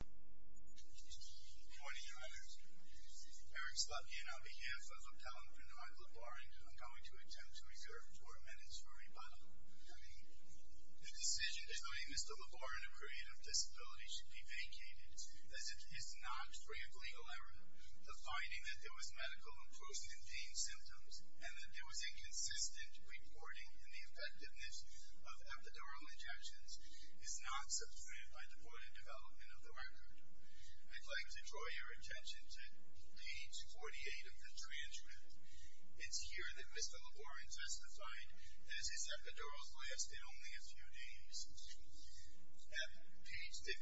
Good morning, Your Honors. Eric Slotkin on behalf of Appellant Bernard Laborin, I'm going to attempt to reserve four minutes for rebuttal. The decision deciding Mr. Laborin of creative disability should be vacated as it is not free of legal error. The finding that there was medical improvement in pain symptoms and that there was inconsistent reporting in the effectiveness of epidural injections is not substantiated by the court of development of the record. I'd like to draw your attention to page 48 of the transcript. It's here that Mr. Laborin testified that his epidurals lasted only a few days. At page 59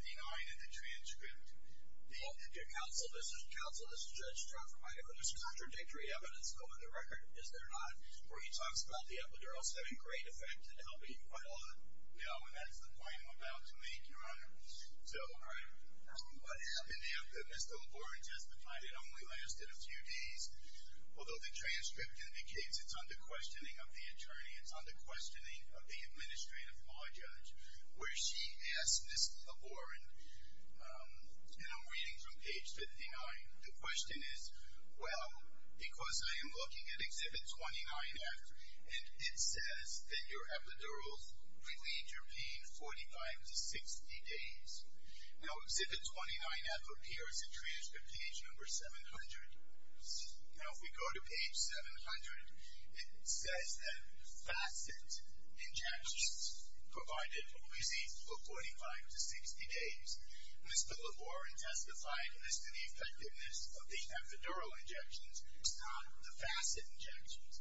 of the transcript, the counsel, this is counsel, this is Judge Trotter. There's contradictory evidence on the record, is there not, where he talks about the epidurals having great effect and helping quite a lot? No, and that's the point I'm about to make, Your Honor. So, what happened there, Mr. Laborin testified it only lasted a few days, although the transcript indicates it's under questioning of the attorney, it's under questioning of the Administrative Law Judge, where she asked Mr. Laborin, and I'm reading from page 59, the question is, well, because I am looking at Exhibit 29F, and it says that your epidurals relieved your pain 45 to 60 days. Now, Exhibit 29F appears in transcript page number 700. Now, if we go to page 700, it says that facet injections provided relief for 45 to 60 days. Mr. Laborin testified as to the effectiveness of the epidural injections, not the facet injections.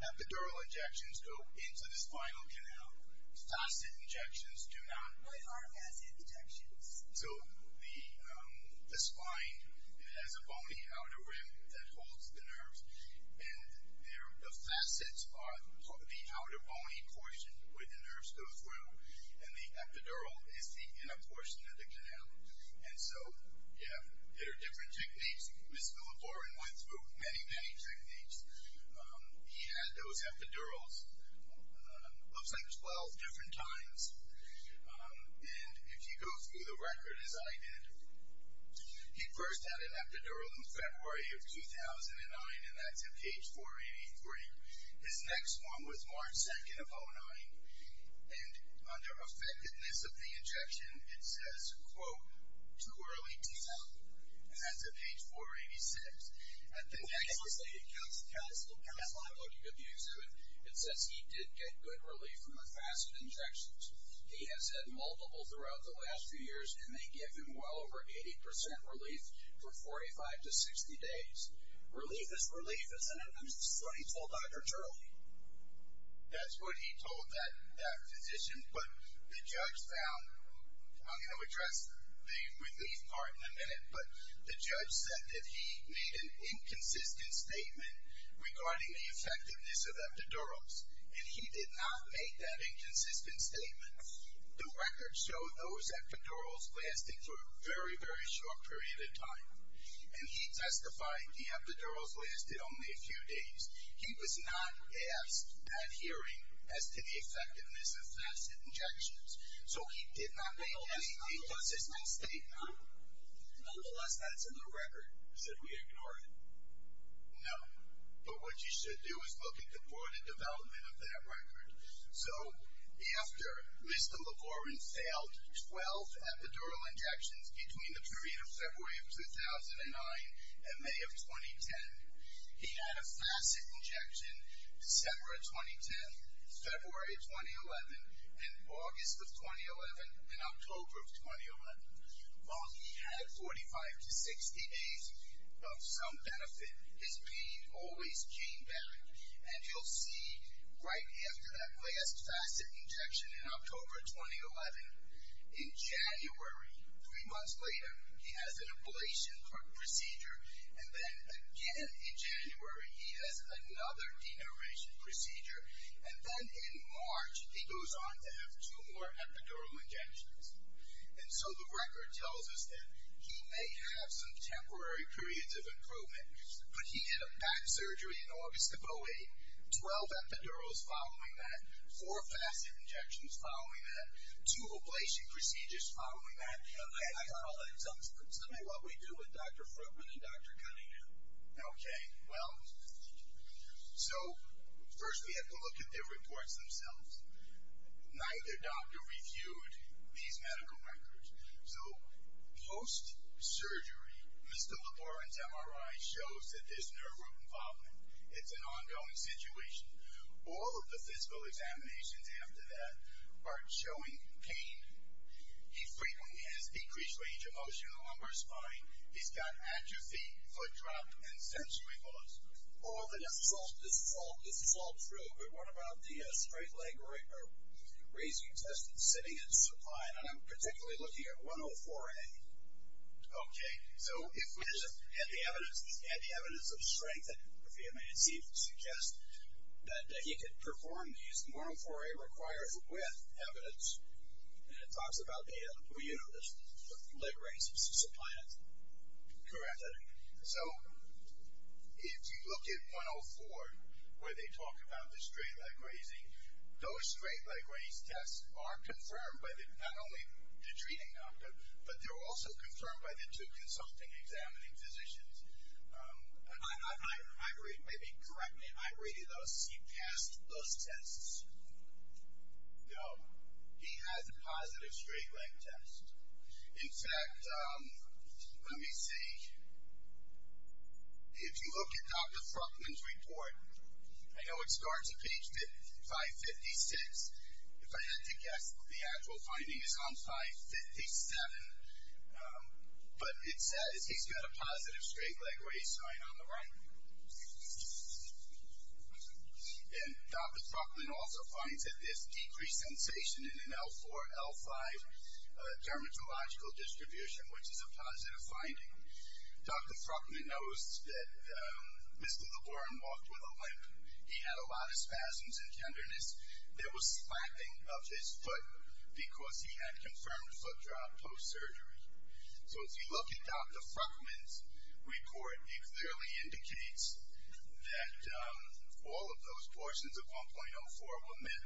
Epidural injections go into the spinal canal. Facet injections do not. What are facet injections? So, the spine has a bony outer rim that holds the nerves, and the facets are the outer bony portion where the nerves go through, and the epidural is the inner portion of the canal. And so, yeah, there are different techniques. Mr. Laborin went through many, many techniques. He had those epidurals, looks like 12 different times, and if you go through the record as I did, he first had an epidural in February of 2009, and that's in page 483. His next one was March 2nd of 2009, and under effectiveness of the injection, it says, quote, too early to tell. And that's at page 486. At the next one, I'm looking at the exhibit, it says he did get good relief from the facet injections. He has had multiple throughout the last few years, and they gave him well over 80% relief for 45 to 60 days. Relief is relief, isn't it? That's what he told Dr. Turley. That's what he told that physician, but the judge found, I'm going to address the relief part in a minute, but the judge said that he made an inconsistent statement regarding the effectiveness of epidurals, and he did not make that inconsistent statement. The record showed those epidurals lasting for a very, very short period of time, and he testified the epidurals lasted only a few days. He was not asked at hearing as to the effectiveness of facet injections, so he did not make any inconsistent statement. Nonetheless, that's in the record, said we ignored it. No, but what you should do is look at the broader development of that record. So, after Mr. LeGorin failed 12 epidurals, epidural injections between the period of February of 2009 and May of 2010, he had a facet injection December of 2010, February of 2011, and August of 2011, and October of 2011. While he had 45 to 60 days of some benefit, his pain always came back, and you'll see right after that last facet injection in October 2011, in January, three months later, he has an ablation procedure, and then again in January, he has another denervation procedure, and then in March, he goes on to have two more epidural injections, and so the record tells us that he may have some temporary periods of improvement, but he did a back surgery in August of 08, 12 epidurals following that, four facet injections following that, two ablation procedures following that, and I don't know if that sums up what we do with Dr. Fruitman and Dr. Cunningham. Okay, well, so, first we have to look at the reports themselves. Neither doctor reviewed these medical records. So, post-surgery, Mr. LeGorin's MRI shows that there's nerve root involvement. It's an ongoing situation. All of the physical examinations after that are showing pain. He frequently has decreased range of motion in the lumbar spine. He's got atrophy, foot drop, and sensory loss. Correct. So, if you look at 104, where they talk about the straight-leg grazing, those straight-leg graze tests are confirmed by the, not only the treating them, but they're also confirmed by the two consulting, examining physicians. In fact, let me see. If you look at Dr. Fruitman's report, I know it starts at page 556. If I had to guess, the actual finding is on 557, but it says he's got a positive straight-leg test. The straight-leg graze sign on the right. And Dr. Fruitman also finds that there's decreased sensation in an L4, L5 dermatological distribution, which is a positive finding. Dr. Fruitman knows that Mr. LeGorin walked with a limp. He had a lot of spasms and tenderness. There was slapping of his foot because he had confirmed foot drop post-surgery. So, if you look at Dr. Fruitman's report, it clearly indicates that all of those portions of 1.04 were met.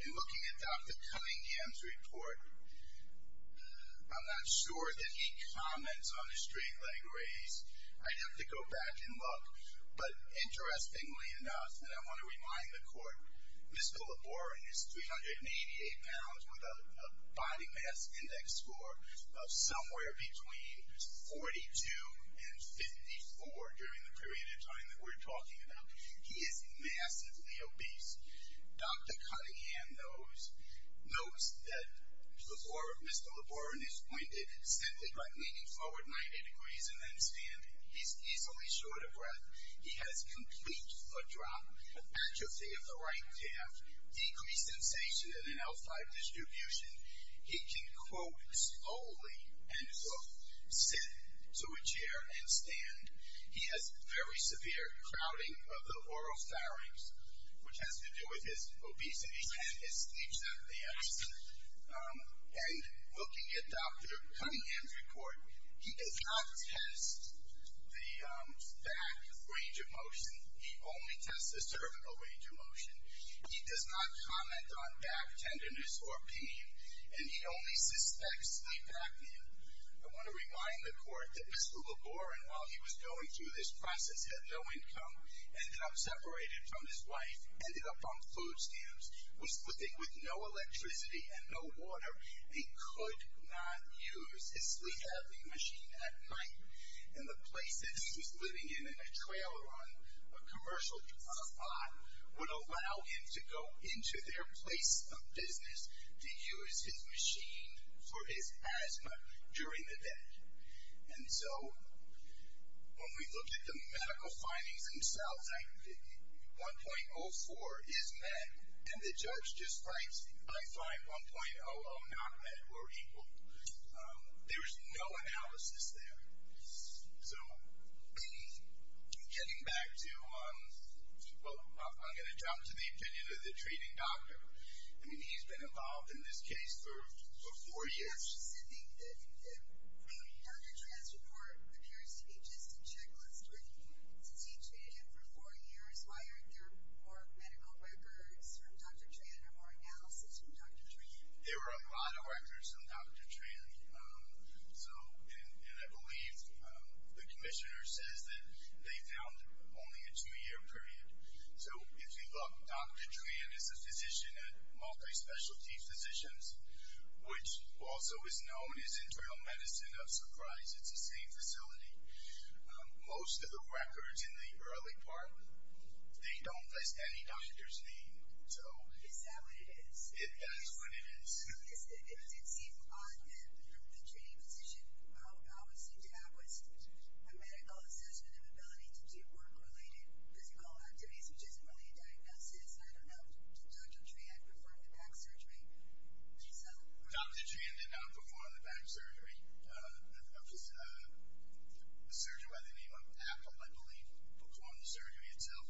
In looking at Dr. Cunningham's report, I'm not sure that he comments on the straight-leg graze. I'd have to go back and look. But, interestingly enough, and I want to remind the court, Mr. LeGorin is 388 pounds with a body mass index score of somewhere between 42 and 54 during the period of time that we're talking about. He is massively obese. Dr. Cunningham knows that Mr. LeGorin is pointed, centered, like leaning forward 90 degrees and then standing. He's easily short of breath. He has complete foot drop, atrophy of the right calf, decreased sensation in an L5 distribution. He can, quote, slowly, end quote, sit to a chair and stand. He has very severe crowding of the oropharynx, which has to do with his obesity and his sleep symptoms. And, looking at Dr. Cunningham's report, he does not test the back range of motion. He only tests the cervical range of motion. He does not comment on back tenderness or pain, and he only suspects sleep apnea. I want to remind the court that Mr. LeGorin, while he was going through this process, had no income, ended up separated from his wife, ended up on food stamps, was living with no electricity and no water. He could not use his sleep apnea machine at night. And the place that he was living in, in a trailer on a commercial spot, would allow him to go into their place of business to use his machine for his asthma during the day. And so, when we look at the medical findings themselves, 1.04 is met, and the judge just writes, I find 1.00 not met or equal. There was no analysis there. So, getting back to, well, I'm going to jump to the opinion of the treating doctor. I mean, he's been involved in this case for four years. Dr. Tran's report appears to be just a checklist. Since he treated him for four years, why aren't there more medical records from Dr. Tran or more analysis from Dr. Tran? There were a lot of records from Dr. Tran. So, and I believe the commissioner says that they found only a two-year period. So, if you look, Dr. Tran is a physician at Multi-Specialty Physicians, which also is known as Internal Medicine of Surprise. It's the same facility. Most of the records in the early part, they don't list any doctor's name. Is that what it is? That's what it is. It did seem odd that the treating physician always seemed to have a medical assessment of ability to do work-related physical activities, which isn't really a diagnosis. I don't know, did Dr. Tran perform the back surgery? Dr. Tran did not perform the back surgery. A surgeon by the name of Apple, I believe, performed the surgery itself.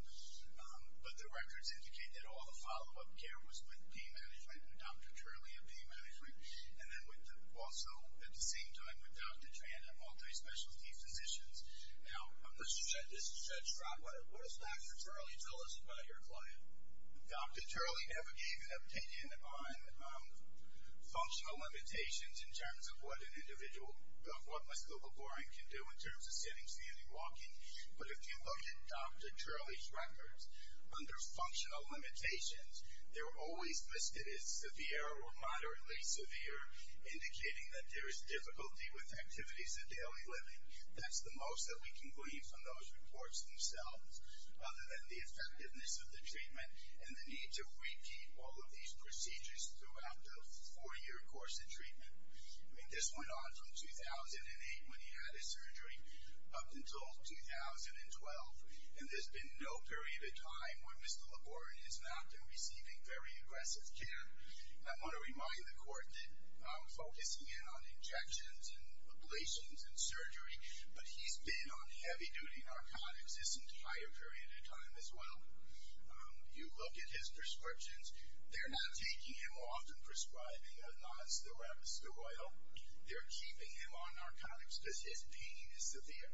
But the records indicate that all the follow-up care was with pain management, with Dr. Turley of pain management, and then also at the same time with Dr. Tran at Multi-Specialty Physicians. Now, this is Judge Scott. What does Dr. Turley tell us about your client? Dr. Turley never gave an opinion on functional limitations in terms of what an individual, what musculoskeletal boring can do in terms of sitting, standing, walking. But if you look at Dr. Turley's records, under functional limitations, they're always listed as severe or moderately severe, indicating that there is difficulty with activities of daily living. That's the most that we can glean from those reports themselves, other than the effectiveness of the treatment and the need to repeat all of these procedures throughout the four-year course of treatment. I mean, this went on from 2008, when he had his surgery, up until 2012. And there's been no period of time where Mr. Laborde has not been receiving very aggressive care. I want to remind the Court that I'm focusing in on injections and ablations and surgery, but he's been on heavy-duty narcotics this entire period of time as well. You look at his prescriptions. They're not taking him off and prescribing a non-steroidal. They're keeping him on narcotics because his pain is severe.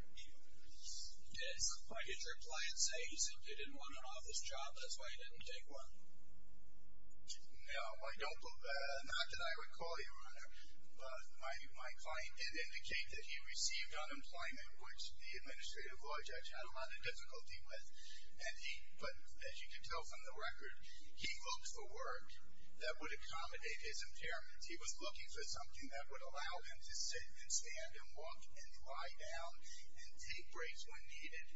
Yes. What did your client say? He said he didn't want an office job. That's why he didn't take one. No, not that I recall, Your Honor. My client did indicate that he received unemployment, which the Administrative Law Judge had a lot of difficulty with. But as you can tell from the record, he looked for work that would accommodate his impairments. He was looking for something that would allow him to sit and stand and walk and lie down and take breaks when needed.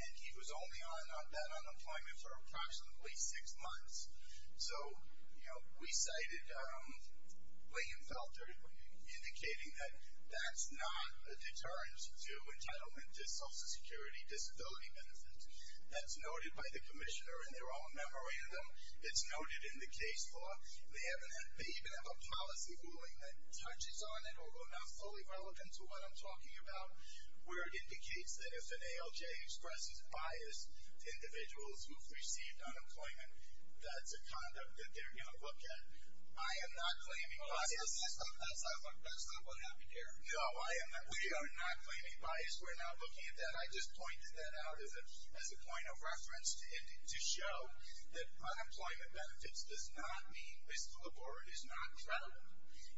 And he was only on that unemployment for approximately six months. So, you know, we cited Lee and Felter indicating that that's not a deterrent to entitlement to Social Security disability benefits. That's noted by the Commissioner, and they're all memorandum. It's noted in the case law. They even have a policy ruling that touches on it, although not fully relevant to what I'm talking about, where it indicates that if an ALJ expresses bias to individuals who've received unemployment, that's a conduct that they're going to look at. I am not claiming bias. That's not what happened here. No, I am not. We are not claiming bias. We're not looking at that. I just pointed that out as a point of reference to show that unemployment benefits does not mean Mr. Labore is not credible.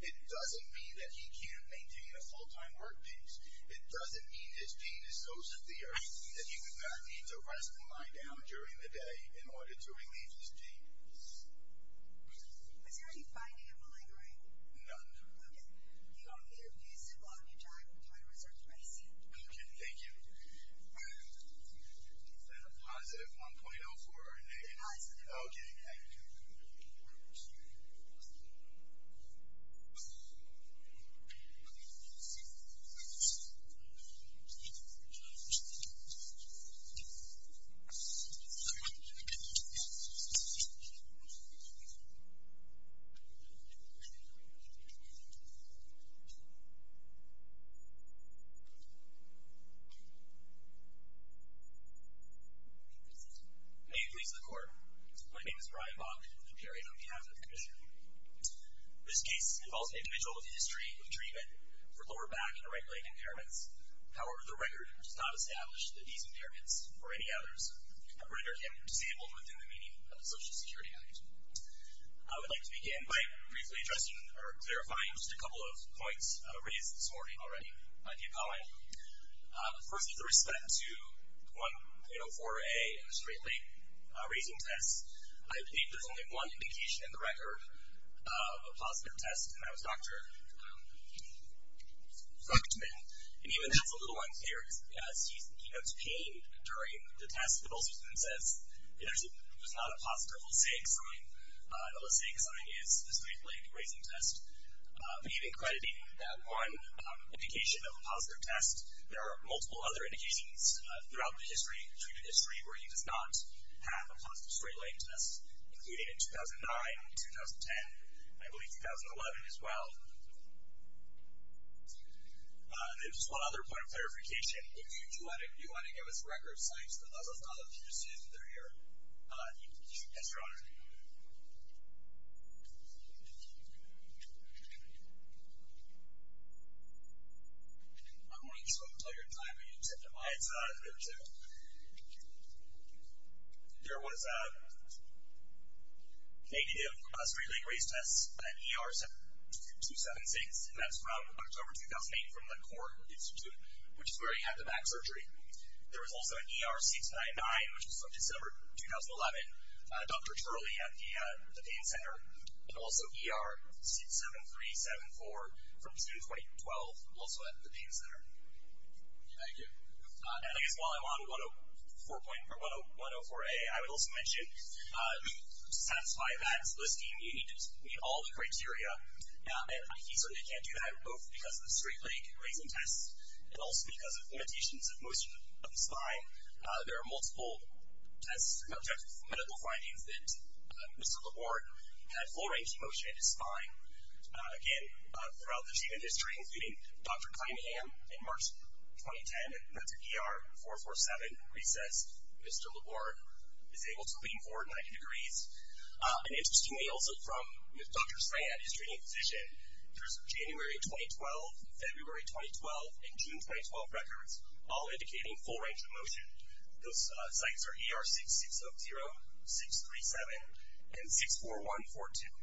It doesn't mean that he can't maintain a full-time work piece. It doesn't mean his pain is so severe that he would not need to rest and lie down during the day in order to relieve his pain. Is there any finding of malingering? None. Okay. You're feasible on your time. We're trying to reserve space. Okay. Thank you. Is that a positive 1.04 or a negative? Positive. Okay. Thank you. May it please the Court, my name is Brian Bach, and I'm appearing on behalf of the Commissioner. This case involves an individual with a history of treatment for lower back and right leg impairments. However, the record does not establish that these impairments or any others have rendered him disabled within the meaning of the Social Security Act. I would like to begin by briefly addressing or clarifying just a couple of points raised this morning already by the appellant. First, with respect to 1.04a, a straight leg raising test, I believe there's only one indication in the record of a positive test, and that was Dr. Fuchtman. And even that's a little unclear, because he notes pain during the test, but also even says there's not a positive Lasik sign. The Lasik sign is the straight leg raising test. But even crediting that one indication of a positive test, there are multiple other indications throughout the history, treatment history, where he does not have a positive straight leg test, including in 2009, 2010, and I believe 2011 as well. And just one other point of clarification, if you do want to give us record sites, as opposed to just sitting there here, you can do so, yes, Your Honor. I'm going to let you tell your time, and you can tell them why it's there too. There was a negative straight leg raise test, an ER 276, and that's from October 2008 from the Korn Institute, which is where he had the back surgery. There was also an ER 699, which was from December 2011, Dr. Turley at the Pain Center, and also ER 67374 from June 2012, also at the Pain Center. Thank you. And I guess while I'm on 104A, I would also mention, to satisfy that listing, you need to meet all the criteria. And he certainly can't do that, both because of the straight leg raising test, and also because of limitations of motion of the spine. There are multiple tests and medical findings that Mr. Laborde had full range of motion in his spine. Again, throughout the treatment history, including Dr. Cunningham in March 2010 at the ER 447 recess, Mr. Laborde is able to lean forward 90 degrees. And interestingly, also from Dr. Strang at his training position, there's January 2012, February 2012, and June 2012 records, all indicating full range of motion. Those sites are ER 6670, 637, and 64142.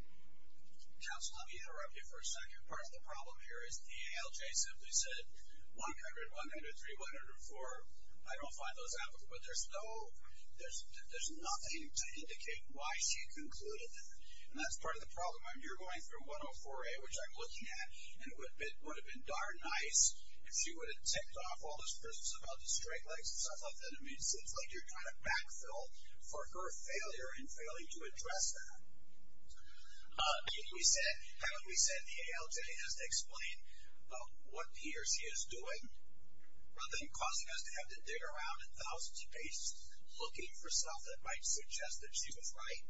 Counsel, let me interrupt you for a second. Part of the problem here is the ALJ simply said 100, 193, 104. I don't find those applicable, but there's no, there's nothing to indicate why she concluded that. And that's part of the problem. You're going through 104A, which I'm looking at, and it would have been darn nice if she would have ticked off all those prisms about the straight legs and stuff like that. I mean, it seems like you're trying to backfill for her failure in failing to address that. Haven't we said the ALJ has to explain what he or she is doing, rather than causing us to have to dig around in thousands of pages looking for stuff that might suggest that she was right?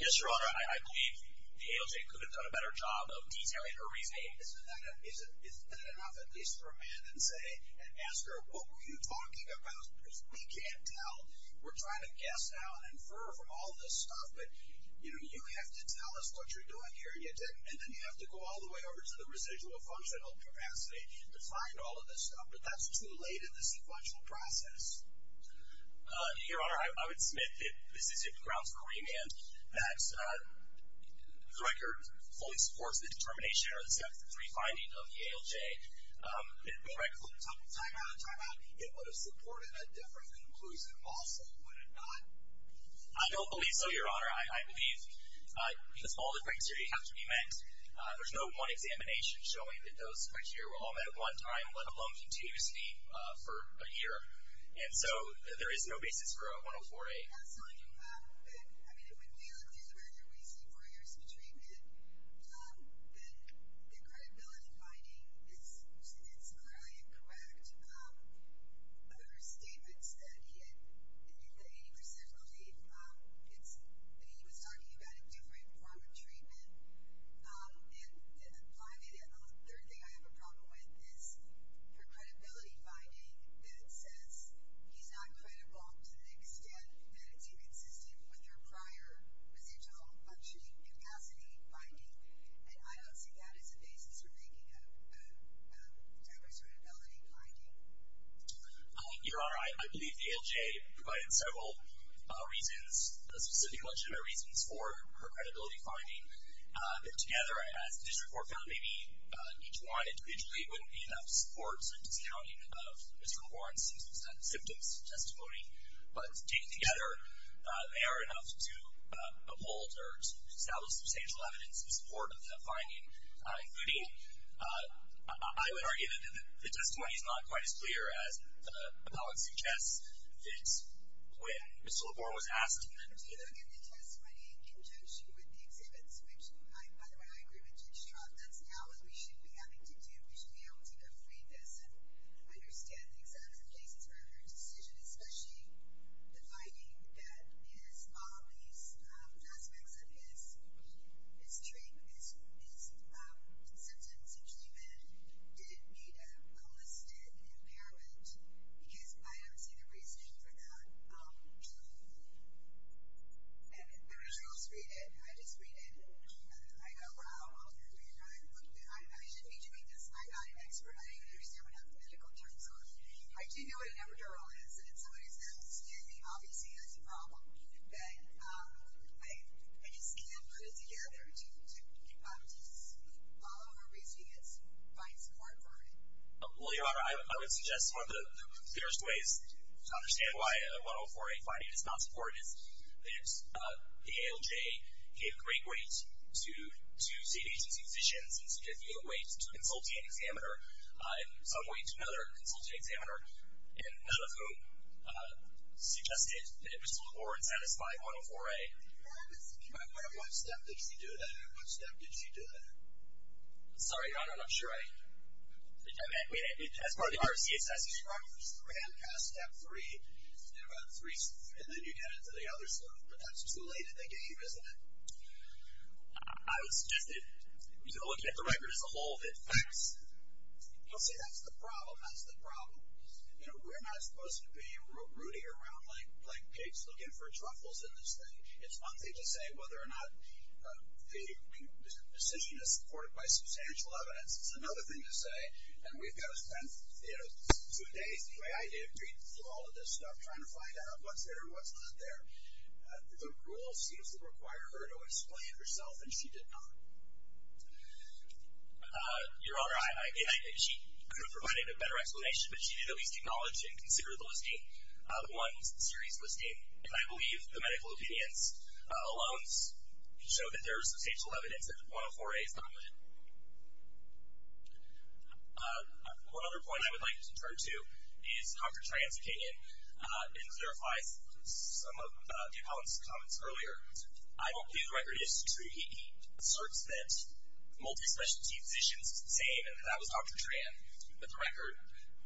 Yes, Your Honor. I believe the ALJ could have done a better job of detailing her reasoning. Isn't that enough at least for a man to say and ask her, what were you talking about? Because we can't tell. We're trying to guess now and infer from all this stuff. But, you know, you have to tell us what you're doing here, and you didn't. And then you have to go all the way over to the residual functional capacity to find all of this stuff. But that's too late in the sequential process. Your Honor, I would submit that this is grounds for remand. That the record fully supports the determination or the three findings of the ALJ. Timeout, timeout. It would have supported a different conclusion also, would it not? I don't believe so, Your Honor. I believe that all the criteria have to be met. There's no one examination showing that those criteria were all met at one time, let alone continuously for a year. And so there is no basis for a 104-A. I mean, when we look through the record, we see four years of treatment. The credibility finding is clearly incorrect. There were statements that he had 80% belief that he was talking about a different form of treatment. And finally, the third thing I have a problem with is her credibility finding that says he's not credible to the extent that it's inconsistent with her prior residual functioning capacity finding. And I don't see that as a basis for making a diverse credibility finding. Your Honor, I believe the ALJ provided several reasons, specific legitimate reasons for her credibility finding. Together, as this report found, maybe each one individually wouldn't be enough to support a discounting of Mr. LaBorne's symptoms testimony. But taken together, they are enough to uphold or to establish substantial evidence in support of that finding, including, I would argue that the testimony is not quite as clear as the public suggests that when Mr. LaBorne was asked. You have to look at the testimony in conjunction with the exhibits, which, by the way, I agree with Judge Trump. That's not what we should be having to do. We should be able to go through this and understand the exact places where her decision, especially the finding that his follies, aspects of his symptoms of treatment, didn't meet a listed impairment. Because I don't see the reasoning for that. And the results read it. I just read it. I go, wow. I shouldn't be doing this. I'm not an expert. I don't even understand what the medical terms are. I do know what an epidural is. And if somebody's going to stand me, obviously that's a problem. But I just can't put it together to follow her reasoning and find support for it. Well, Your Honor, I would suggest one of the clearest ways to understand why a 104A finding is not support is that the ALJ gave great weight to state agency physicians and significant weight to a consultant examiner, and some weight to another consultant examiner, and none of whom suggested that it was a poor and unsatisfying 104A. Can I ask, what step did she do to that? What step did she do to that? Sorry, Your Honor, I'm not sure. Right. As part of the RCSS, you're right, there's three. Hand cast, step three, and then you get into the other stuff. But that's too late in the game, isn't it? I would suggest that you look at the record as a whole, that it facts. See, that's the problem. That's the problem. You know, we're not supposed to be rooting around like pigs looking for truffles in this thing. It's one thing to say whether or not the decision is supported by substantial evidence. It's another thing to say, and we've got to spend, you know, two days, the way I did, reading through all of this stuff, trying to find out what's there and what's not there. The rule seems to require her to explain herself, and she did not. Your Honor, she could have provided a better explanation, but she did at least acknowledge and consider the listing, the ones, the series listing. And I believe the medical opinions alone show that there is substantial evidence that 104A is not legitimate. One other point I would like to turn to is Dr. Tran's opinion. It clarifies some of Dave Holland's comments earlier. I don't believe the record is true. He asserts that multi-specialty physicians say that that was Dr. Tran, but the record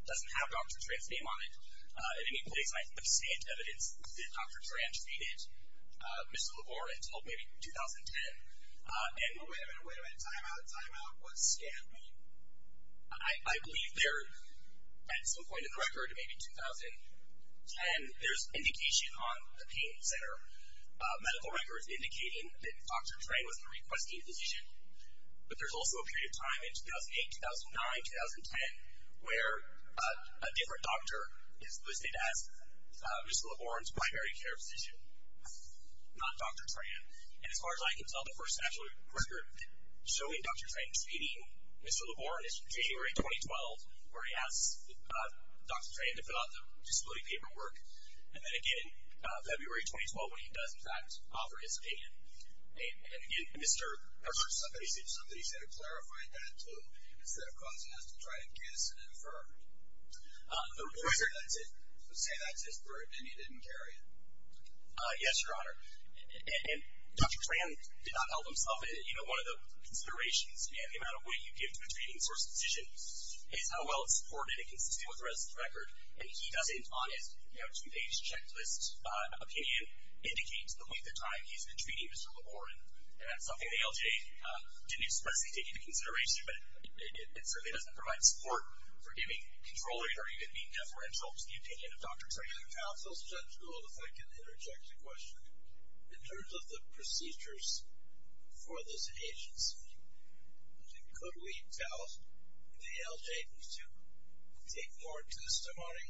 doesn't have Dr. Tran's name on it. In any place I can understand evidence that Dr. Tran treated Ms. LeVoir until maybe 2010. Wait a minute, wait a minute, time out, time out. What's scanned mean? I believe there, at some point in the record, maybe 2010, there's indication on the pain center, medical records indicating that Dr. Tran was a requesting physician, but there's also a period of time in 2008, 2009, 2010, where a different doctor is listed as Ms. LeVoir's primary care physician, not Dr. Tran. And as far as I can tell, the first actual record showing Dr. Tran treating Ms. LeVoir is January 2012, where he asks Dr. Tran to fill out the disability paperwork, and then again in February 2012 when he does, in fact, offer his opinion. And, again, Mr. Herschel. Somebody said it clarified that, too, instead of causing us to try to guess and infer. The reporter would say that's his burden and he didn't carry it. Yes, Your Honor. And Dr. Tran did not help himself. One of the considerations and the amount of weight you give to a treating source physician is how well it's supported and consistent with the rest of the record. And he doesn't, on his two-page checklist opinion, indicate the length of time he's been treating Ms. LeVoir. And that's something the LJ didn't expressly take into consideration, but it certainly doesn't provide support for giving control or even being deferential to the opinion of Dr. Tran. Your Honor, your counsel's judgment will affect an interjected question in terms of the procedures for this agency. Could we tell the LJ to take more testimony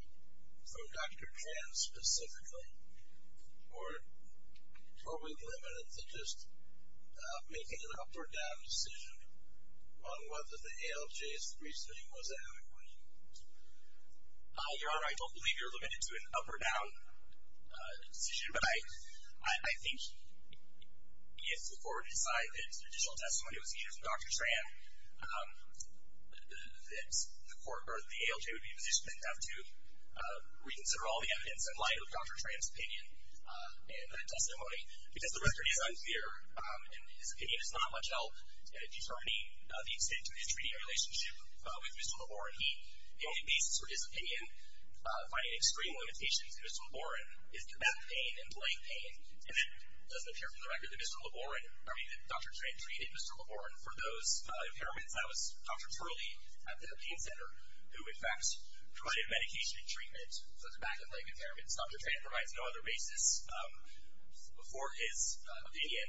from Dr. Tran specifically, or are we limited to just making an up-or-down decision on whether the LJ's reasoning was adequate? Your Honor, I don't believe you're limited to an up-or-down decision, but I think if the court would decide that additional testimony was needed from Dr. Tran, the court or the ALJ would be positioned to have to reconsider all the evidence in light of Dr. Tran's opinion and that testimony, because the record is unclear and his opinion is not much help in determining the extent to which he's treating a relationship with Mr. LeVoir. The only basis for his opinion finding extreme limitations in Mr. LeVoir is the back pain and leg pain, and it doesn't appear from the record that Dr. Tran treated Mr. LeVoir for those impairments. That was Dr. Turley at the pain center who, in fact, provided medication and treatment for the back and leg impairments. Dr. Tran provides no other basis for his opinion,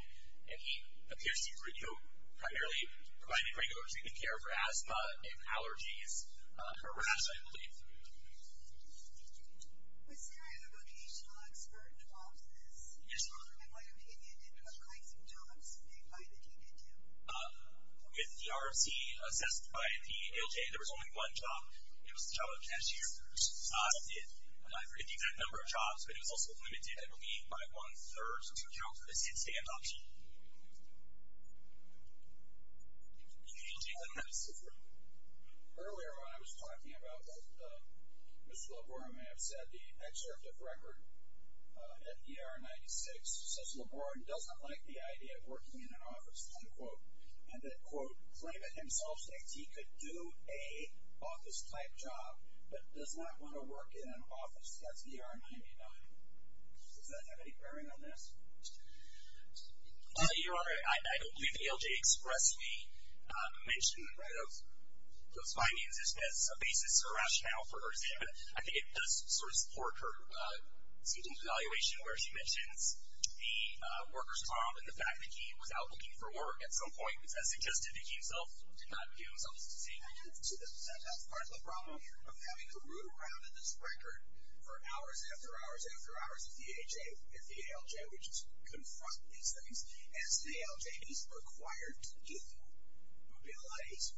and he appears to have primarily provided regular treatment care for asthma and allergies for rash I believe. Was there a vocational expert involved in this? Yes, Your Honor. In what opinion did he apply some jobs made by the ALJ? With the RFC assessed by the ALJ, there was only one job. It was the job of cashiers. Can you count this in standups? Earlier when I was talking about what Mr. LeVoir may have said, the excerpt of record, FDR 96, says LeVoir doesn't like the idea of working in an office, unquote, and that, quote, claimed it himself that he could do a office-type job but does not want to work in an office. That's FDR 99. Does that have any bearing on this? Your Honor, I don't believe the ALJ expressly mentioned those findings. It's not a basis or rationale for her statement. I think it does sort of support her seeking evaluation where she mentions the worker's mom and the fact that he was out looking for work at some point, which I suggested that he himself did not do. That's part of the problem of having to root around in this record for hours after hours after hours of the AJ and the ALJ, which is to confront these things, as the ALJ is required to do, would be a lot easier.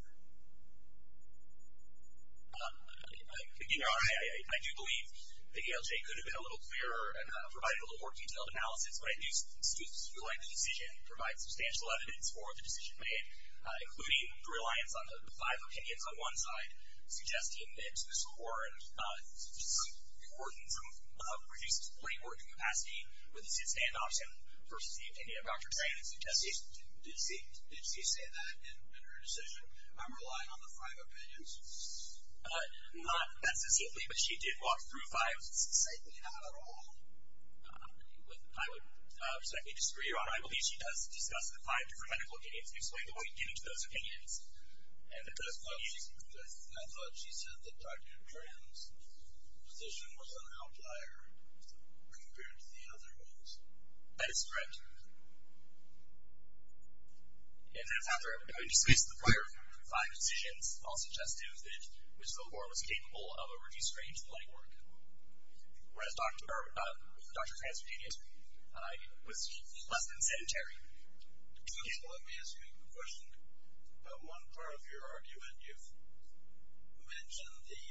Your Honor, I do believe the ALJ could have been a little clearer and provided a little more detailed analysis, but I think students who like the decision provide substantial evidence for the decision made, including the reliance on the five opinions on one side, suggesting that it's the score and some importance of reduced labor and capacity with the sit-stand option versus the opinion of Dr. Chang. Did she say that in her decision, I'm relying on the five opinions? Not necessarily, but she did walk through five. Certainly not at all. I would respectfully disagree, Your Honor. I believe she does discuss the five different medical opinions and explain the way to get into those opinions. And I thought she said that Dr. Chang's position was an outlier compared to the other ones. That is correct. And that's after having discussed the prior five decisions, all suggestive that Ms. Villabor was capable of a reduced range of legwork, whereas Dr. Chang's opinion was less than sedentary. Counsel, let me ask you a question. About one part of your argument, you've mentioned the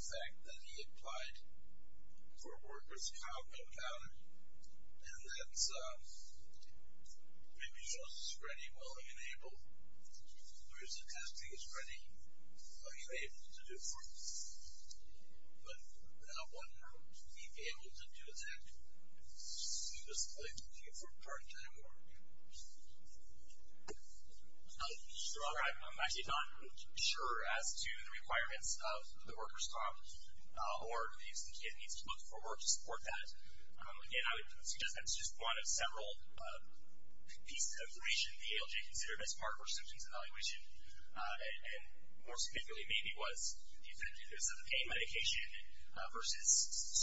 fact that he applied for a workers' compound, and that maybe shows his ready, willing, and able, whereas the testing is ready, willing, and able to do for him. But would one be able to do exactly what Ms. Villabor did for Dr. Chang? Your Honor, I'm actually not sure as to the requirements of the workers' comp, or do you think he needs to look for work to support that? Again, I would suggest that it's just one of several pieces of information the ALJ considered as part of her symptoms evaluation, and more specifically maybe was the effectiveness of the pain medication versus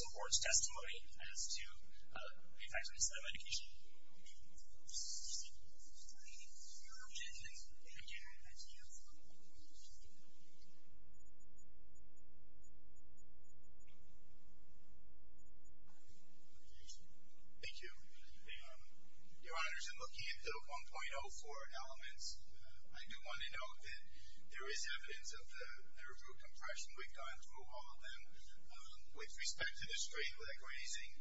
support testimony as to the effectiveness of that medication. Thank you. Your Honor, as I'm looking at the 1.04 elements, I do want to note that there is evidence of the improved compression. We've gone through all of them. With respect to the straight leg raising,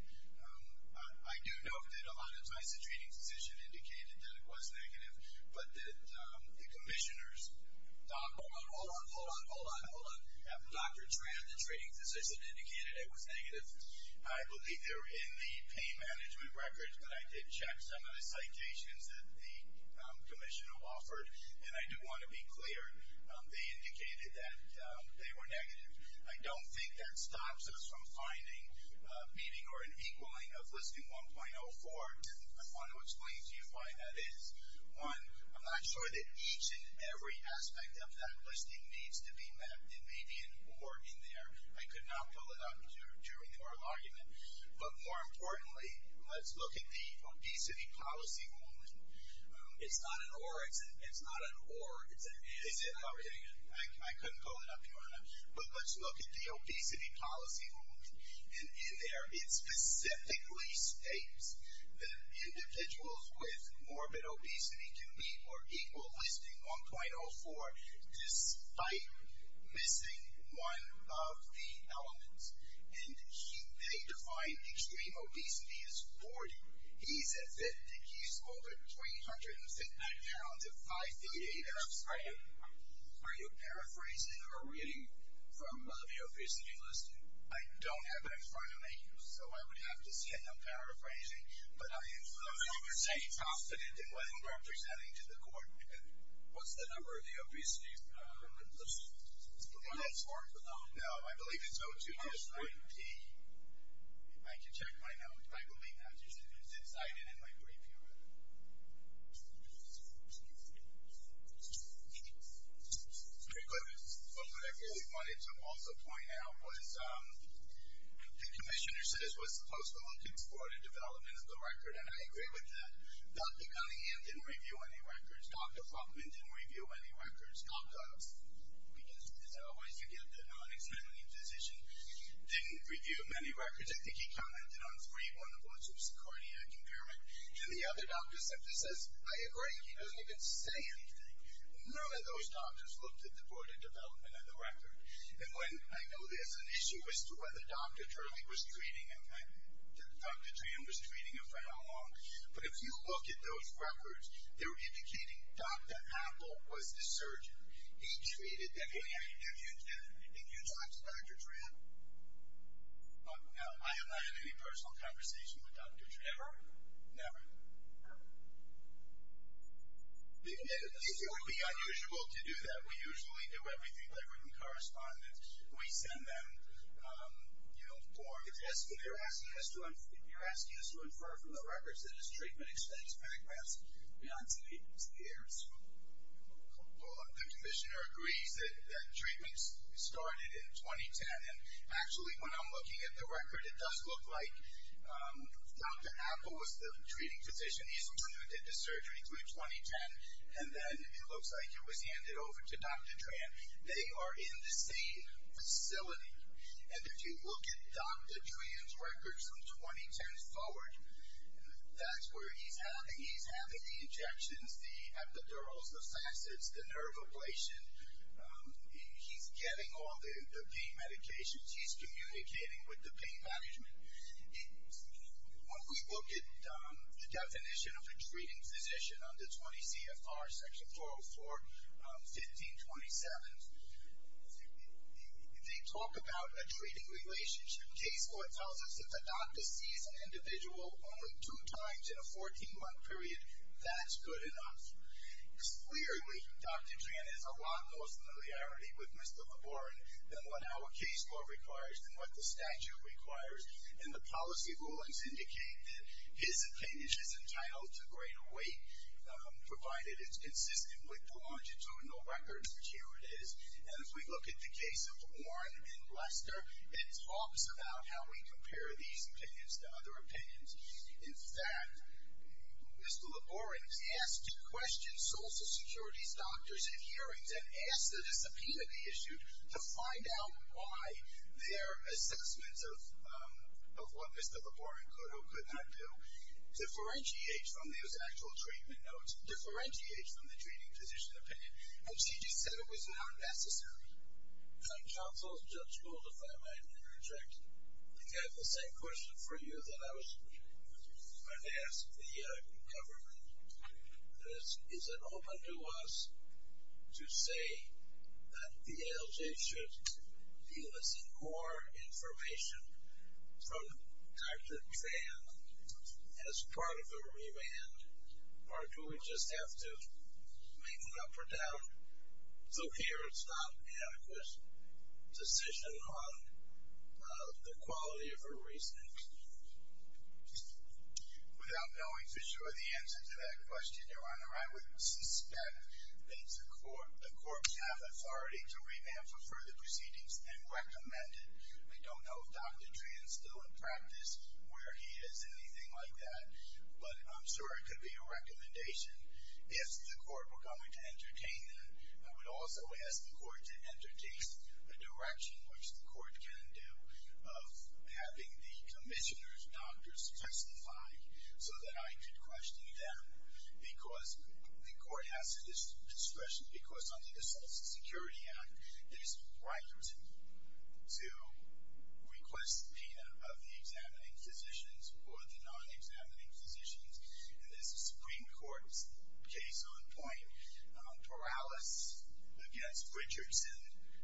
I do note that a lot of times the treating physician indicated that it was negative, but that the commissioners thought, hold on, hold on, hold on, hold on, hold on. Dr. Tran, the treating physician, indicated it was negative. I believe they were in the pain management records, but I did check some of the citations that the commissioner offered, and I do want to be clear. They indicated that they were negative. I don't think that stops us from finding meaning or an equaling of listing 1.04. I want to explain to you why that is. One, I'm not sure that each and every aspect of that listing needs to be met. There may be an or in there. I could not pull it out during the oral argument, but more importantly, let's look at the obesity policy ruling. It's not an or. It's not an or. I couldn't pull it up during it. But let's look at the obesity policy ruling. And in there, it specifically states that individuals with morbid obesity can be more equal listing 1.04 despite missing one of the elements. And they define extreme obesity as 40. He's at 50. He's over 350 pounds at 5 feet 8 inches. Are you paraphrasing or reading from the obesity listing? I don't have that in front of me, so I would have to say I'm paraphrasing. But I am saying confident in what I'm representing to the court. What's the number of the obesity listing? 1.04? No, I believe it's 02-90. I can check my notes. I believe that's what you said. It's inside and in my brief here. What I really wanted to also point out was the commissioner says we're supposed to look and support a development of the record, and I agree with that. Dr. Cunningham didn't review any records. Dr. Frumman didn't review any records. Because, as I always forget, the non-examining physician didn't review many records. I think he commented on three. One of which was cardiac impairment. And the other doctor simply says, I agree. He doesn't even say anything. None of those doctors looked at the board of development of the record. And I know there's an issue as to whether Dr. Turley was treating him, that Dr. Tran was treating him for how long. But if you look at those records, they're indicating Dr. Apple was the surgeon. He treated that patient. Did you talk to Dr. Tran? No. I have not had any personal conversation with Dr. Tran. Never? Never. If it would be unusual to do that, we usually do everything by written correspondence. We send them, you know, forms. You're asking us to infer from the records that his treatment extends backwards beyond three years. Well, the commissioner agrees that treatment started in 2010. And actually, when I'm looking at the record, it does look like Dr. Apple was the treating physician. He's the one who did the surgery through 2010. And then it looks like it was handed over to Dr. Tran. They are in the same facility. And if you look at Dr. Tran's records from 2010 forward, that's where he's having the injections, the epidurals, the facets, the nerve ablation. He's getting all the pain medications. He's communicating with the pain management. When we look at the definition of a treating physician under 20 CFR, Section 404, 1527, they talk about a treating relationship. Case law tells us that the doctor sees an individual only two times in a 14-month period. That's good enough. Clearly, Dr. Tran has a lot more familiarity with Mr. LeBaron than what our case law requires and what the statute requires. And the policy rulings indicate that his opinion is entitled to greater weight, provided it's consistent with the longitudinal records, which here it is. And if we look at the case of Warren and Lester, it talks about how we compare these opinions to other opinions. In fact, Mr. LeBaron was asked to question Social Security's doctors at hearings and ask the discipline of the issue to find out why their assessments of what Mr. LeBaron could or could not do differentiates from those actual treatment notes, differentiates from the treating physician opinion. And she just said it was not necessary. Counsel, Judge Gould, if I might interject, I think I have the same question for you that I was going to ask the government. Is it open to us to say that the ALJ should deal us in more information from Dr. Tran as part of the remand, or do we just have to make an up or down? So here it's not an adequate decision on the quality of her reasoning. Without knowing for sure the answer to that question, Your Honor, I would suspect that the court would have authority to remand for further proceedings and recommend it. I don't know if Dr. Tran is still in practice, where he is, anything like that. But I'm sure it could be a recommendation. If the court were going to entertain that, I would also ask the court to introduce a direction, which the court can do, of having the commissioners' doctors testify so that I could question them. Because the court has discretion. Because under the Social Security Act, there's a right to request the opinion of the examining physicians or the non-examining physicians. And this is the Supreme Court's case on point. Perales against Richardson,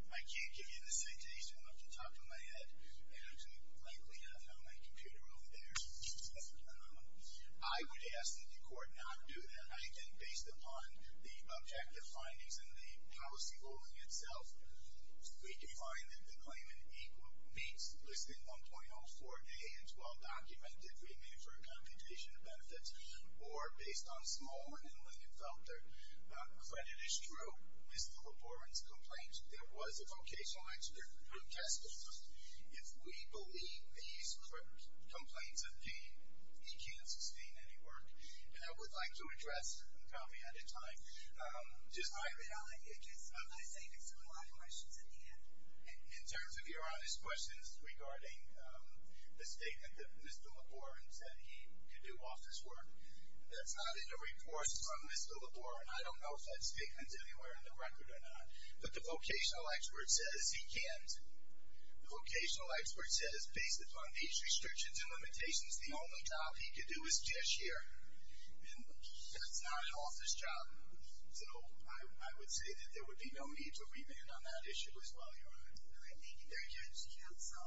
I can't give you the citation off the top of my head, and it's likely not on my computer over there. I would ask that the court not do that. I think based upon the objective findings and the policy holding itself, we can find that the claimant meets Listing 1.04A and 12 documented remand for accommodation of benefits, or based on Smallman and Lindenfelter. Credit is true. Mr. Lavorin's complaint, there was a vocational expert who testified. If we believe these complaints of pain, he can't sustain any work. And I would like to address, and probably out of time, I'm going to say this and a lot of questions at the end. In terms of your honest questions regarding the statement that Mr. Lavorin said he could do office work, that's not in the reports from Mr. Lavorin. I don't know if that statement's anywhere in the record or not. But the vocational expert says he can't. The vocational expert says based upon these restrictions and limitations, the only job he could do is cashier. And that's not an office job. So I would say that there would be no need to remand on that issue as well, Your Honor. All right. Thank you very much, counsel.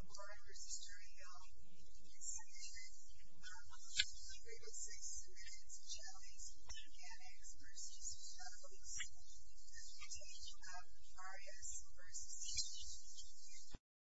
Lavorin v. Duriell. It's submitted. We're going to take some minutes and challenge mechanics v. Jacobs. We're going to take Arias v.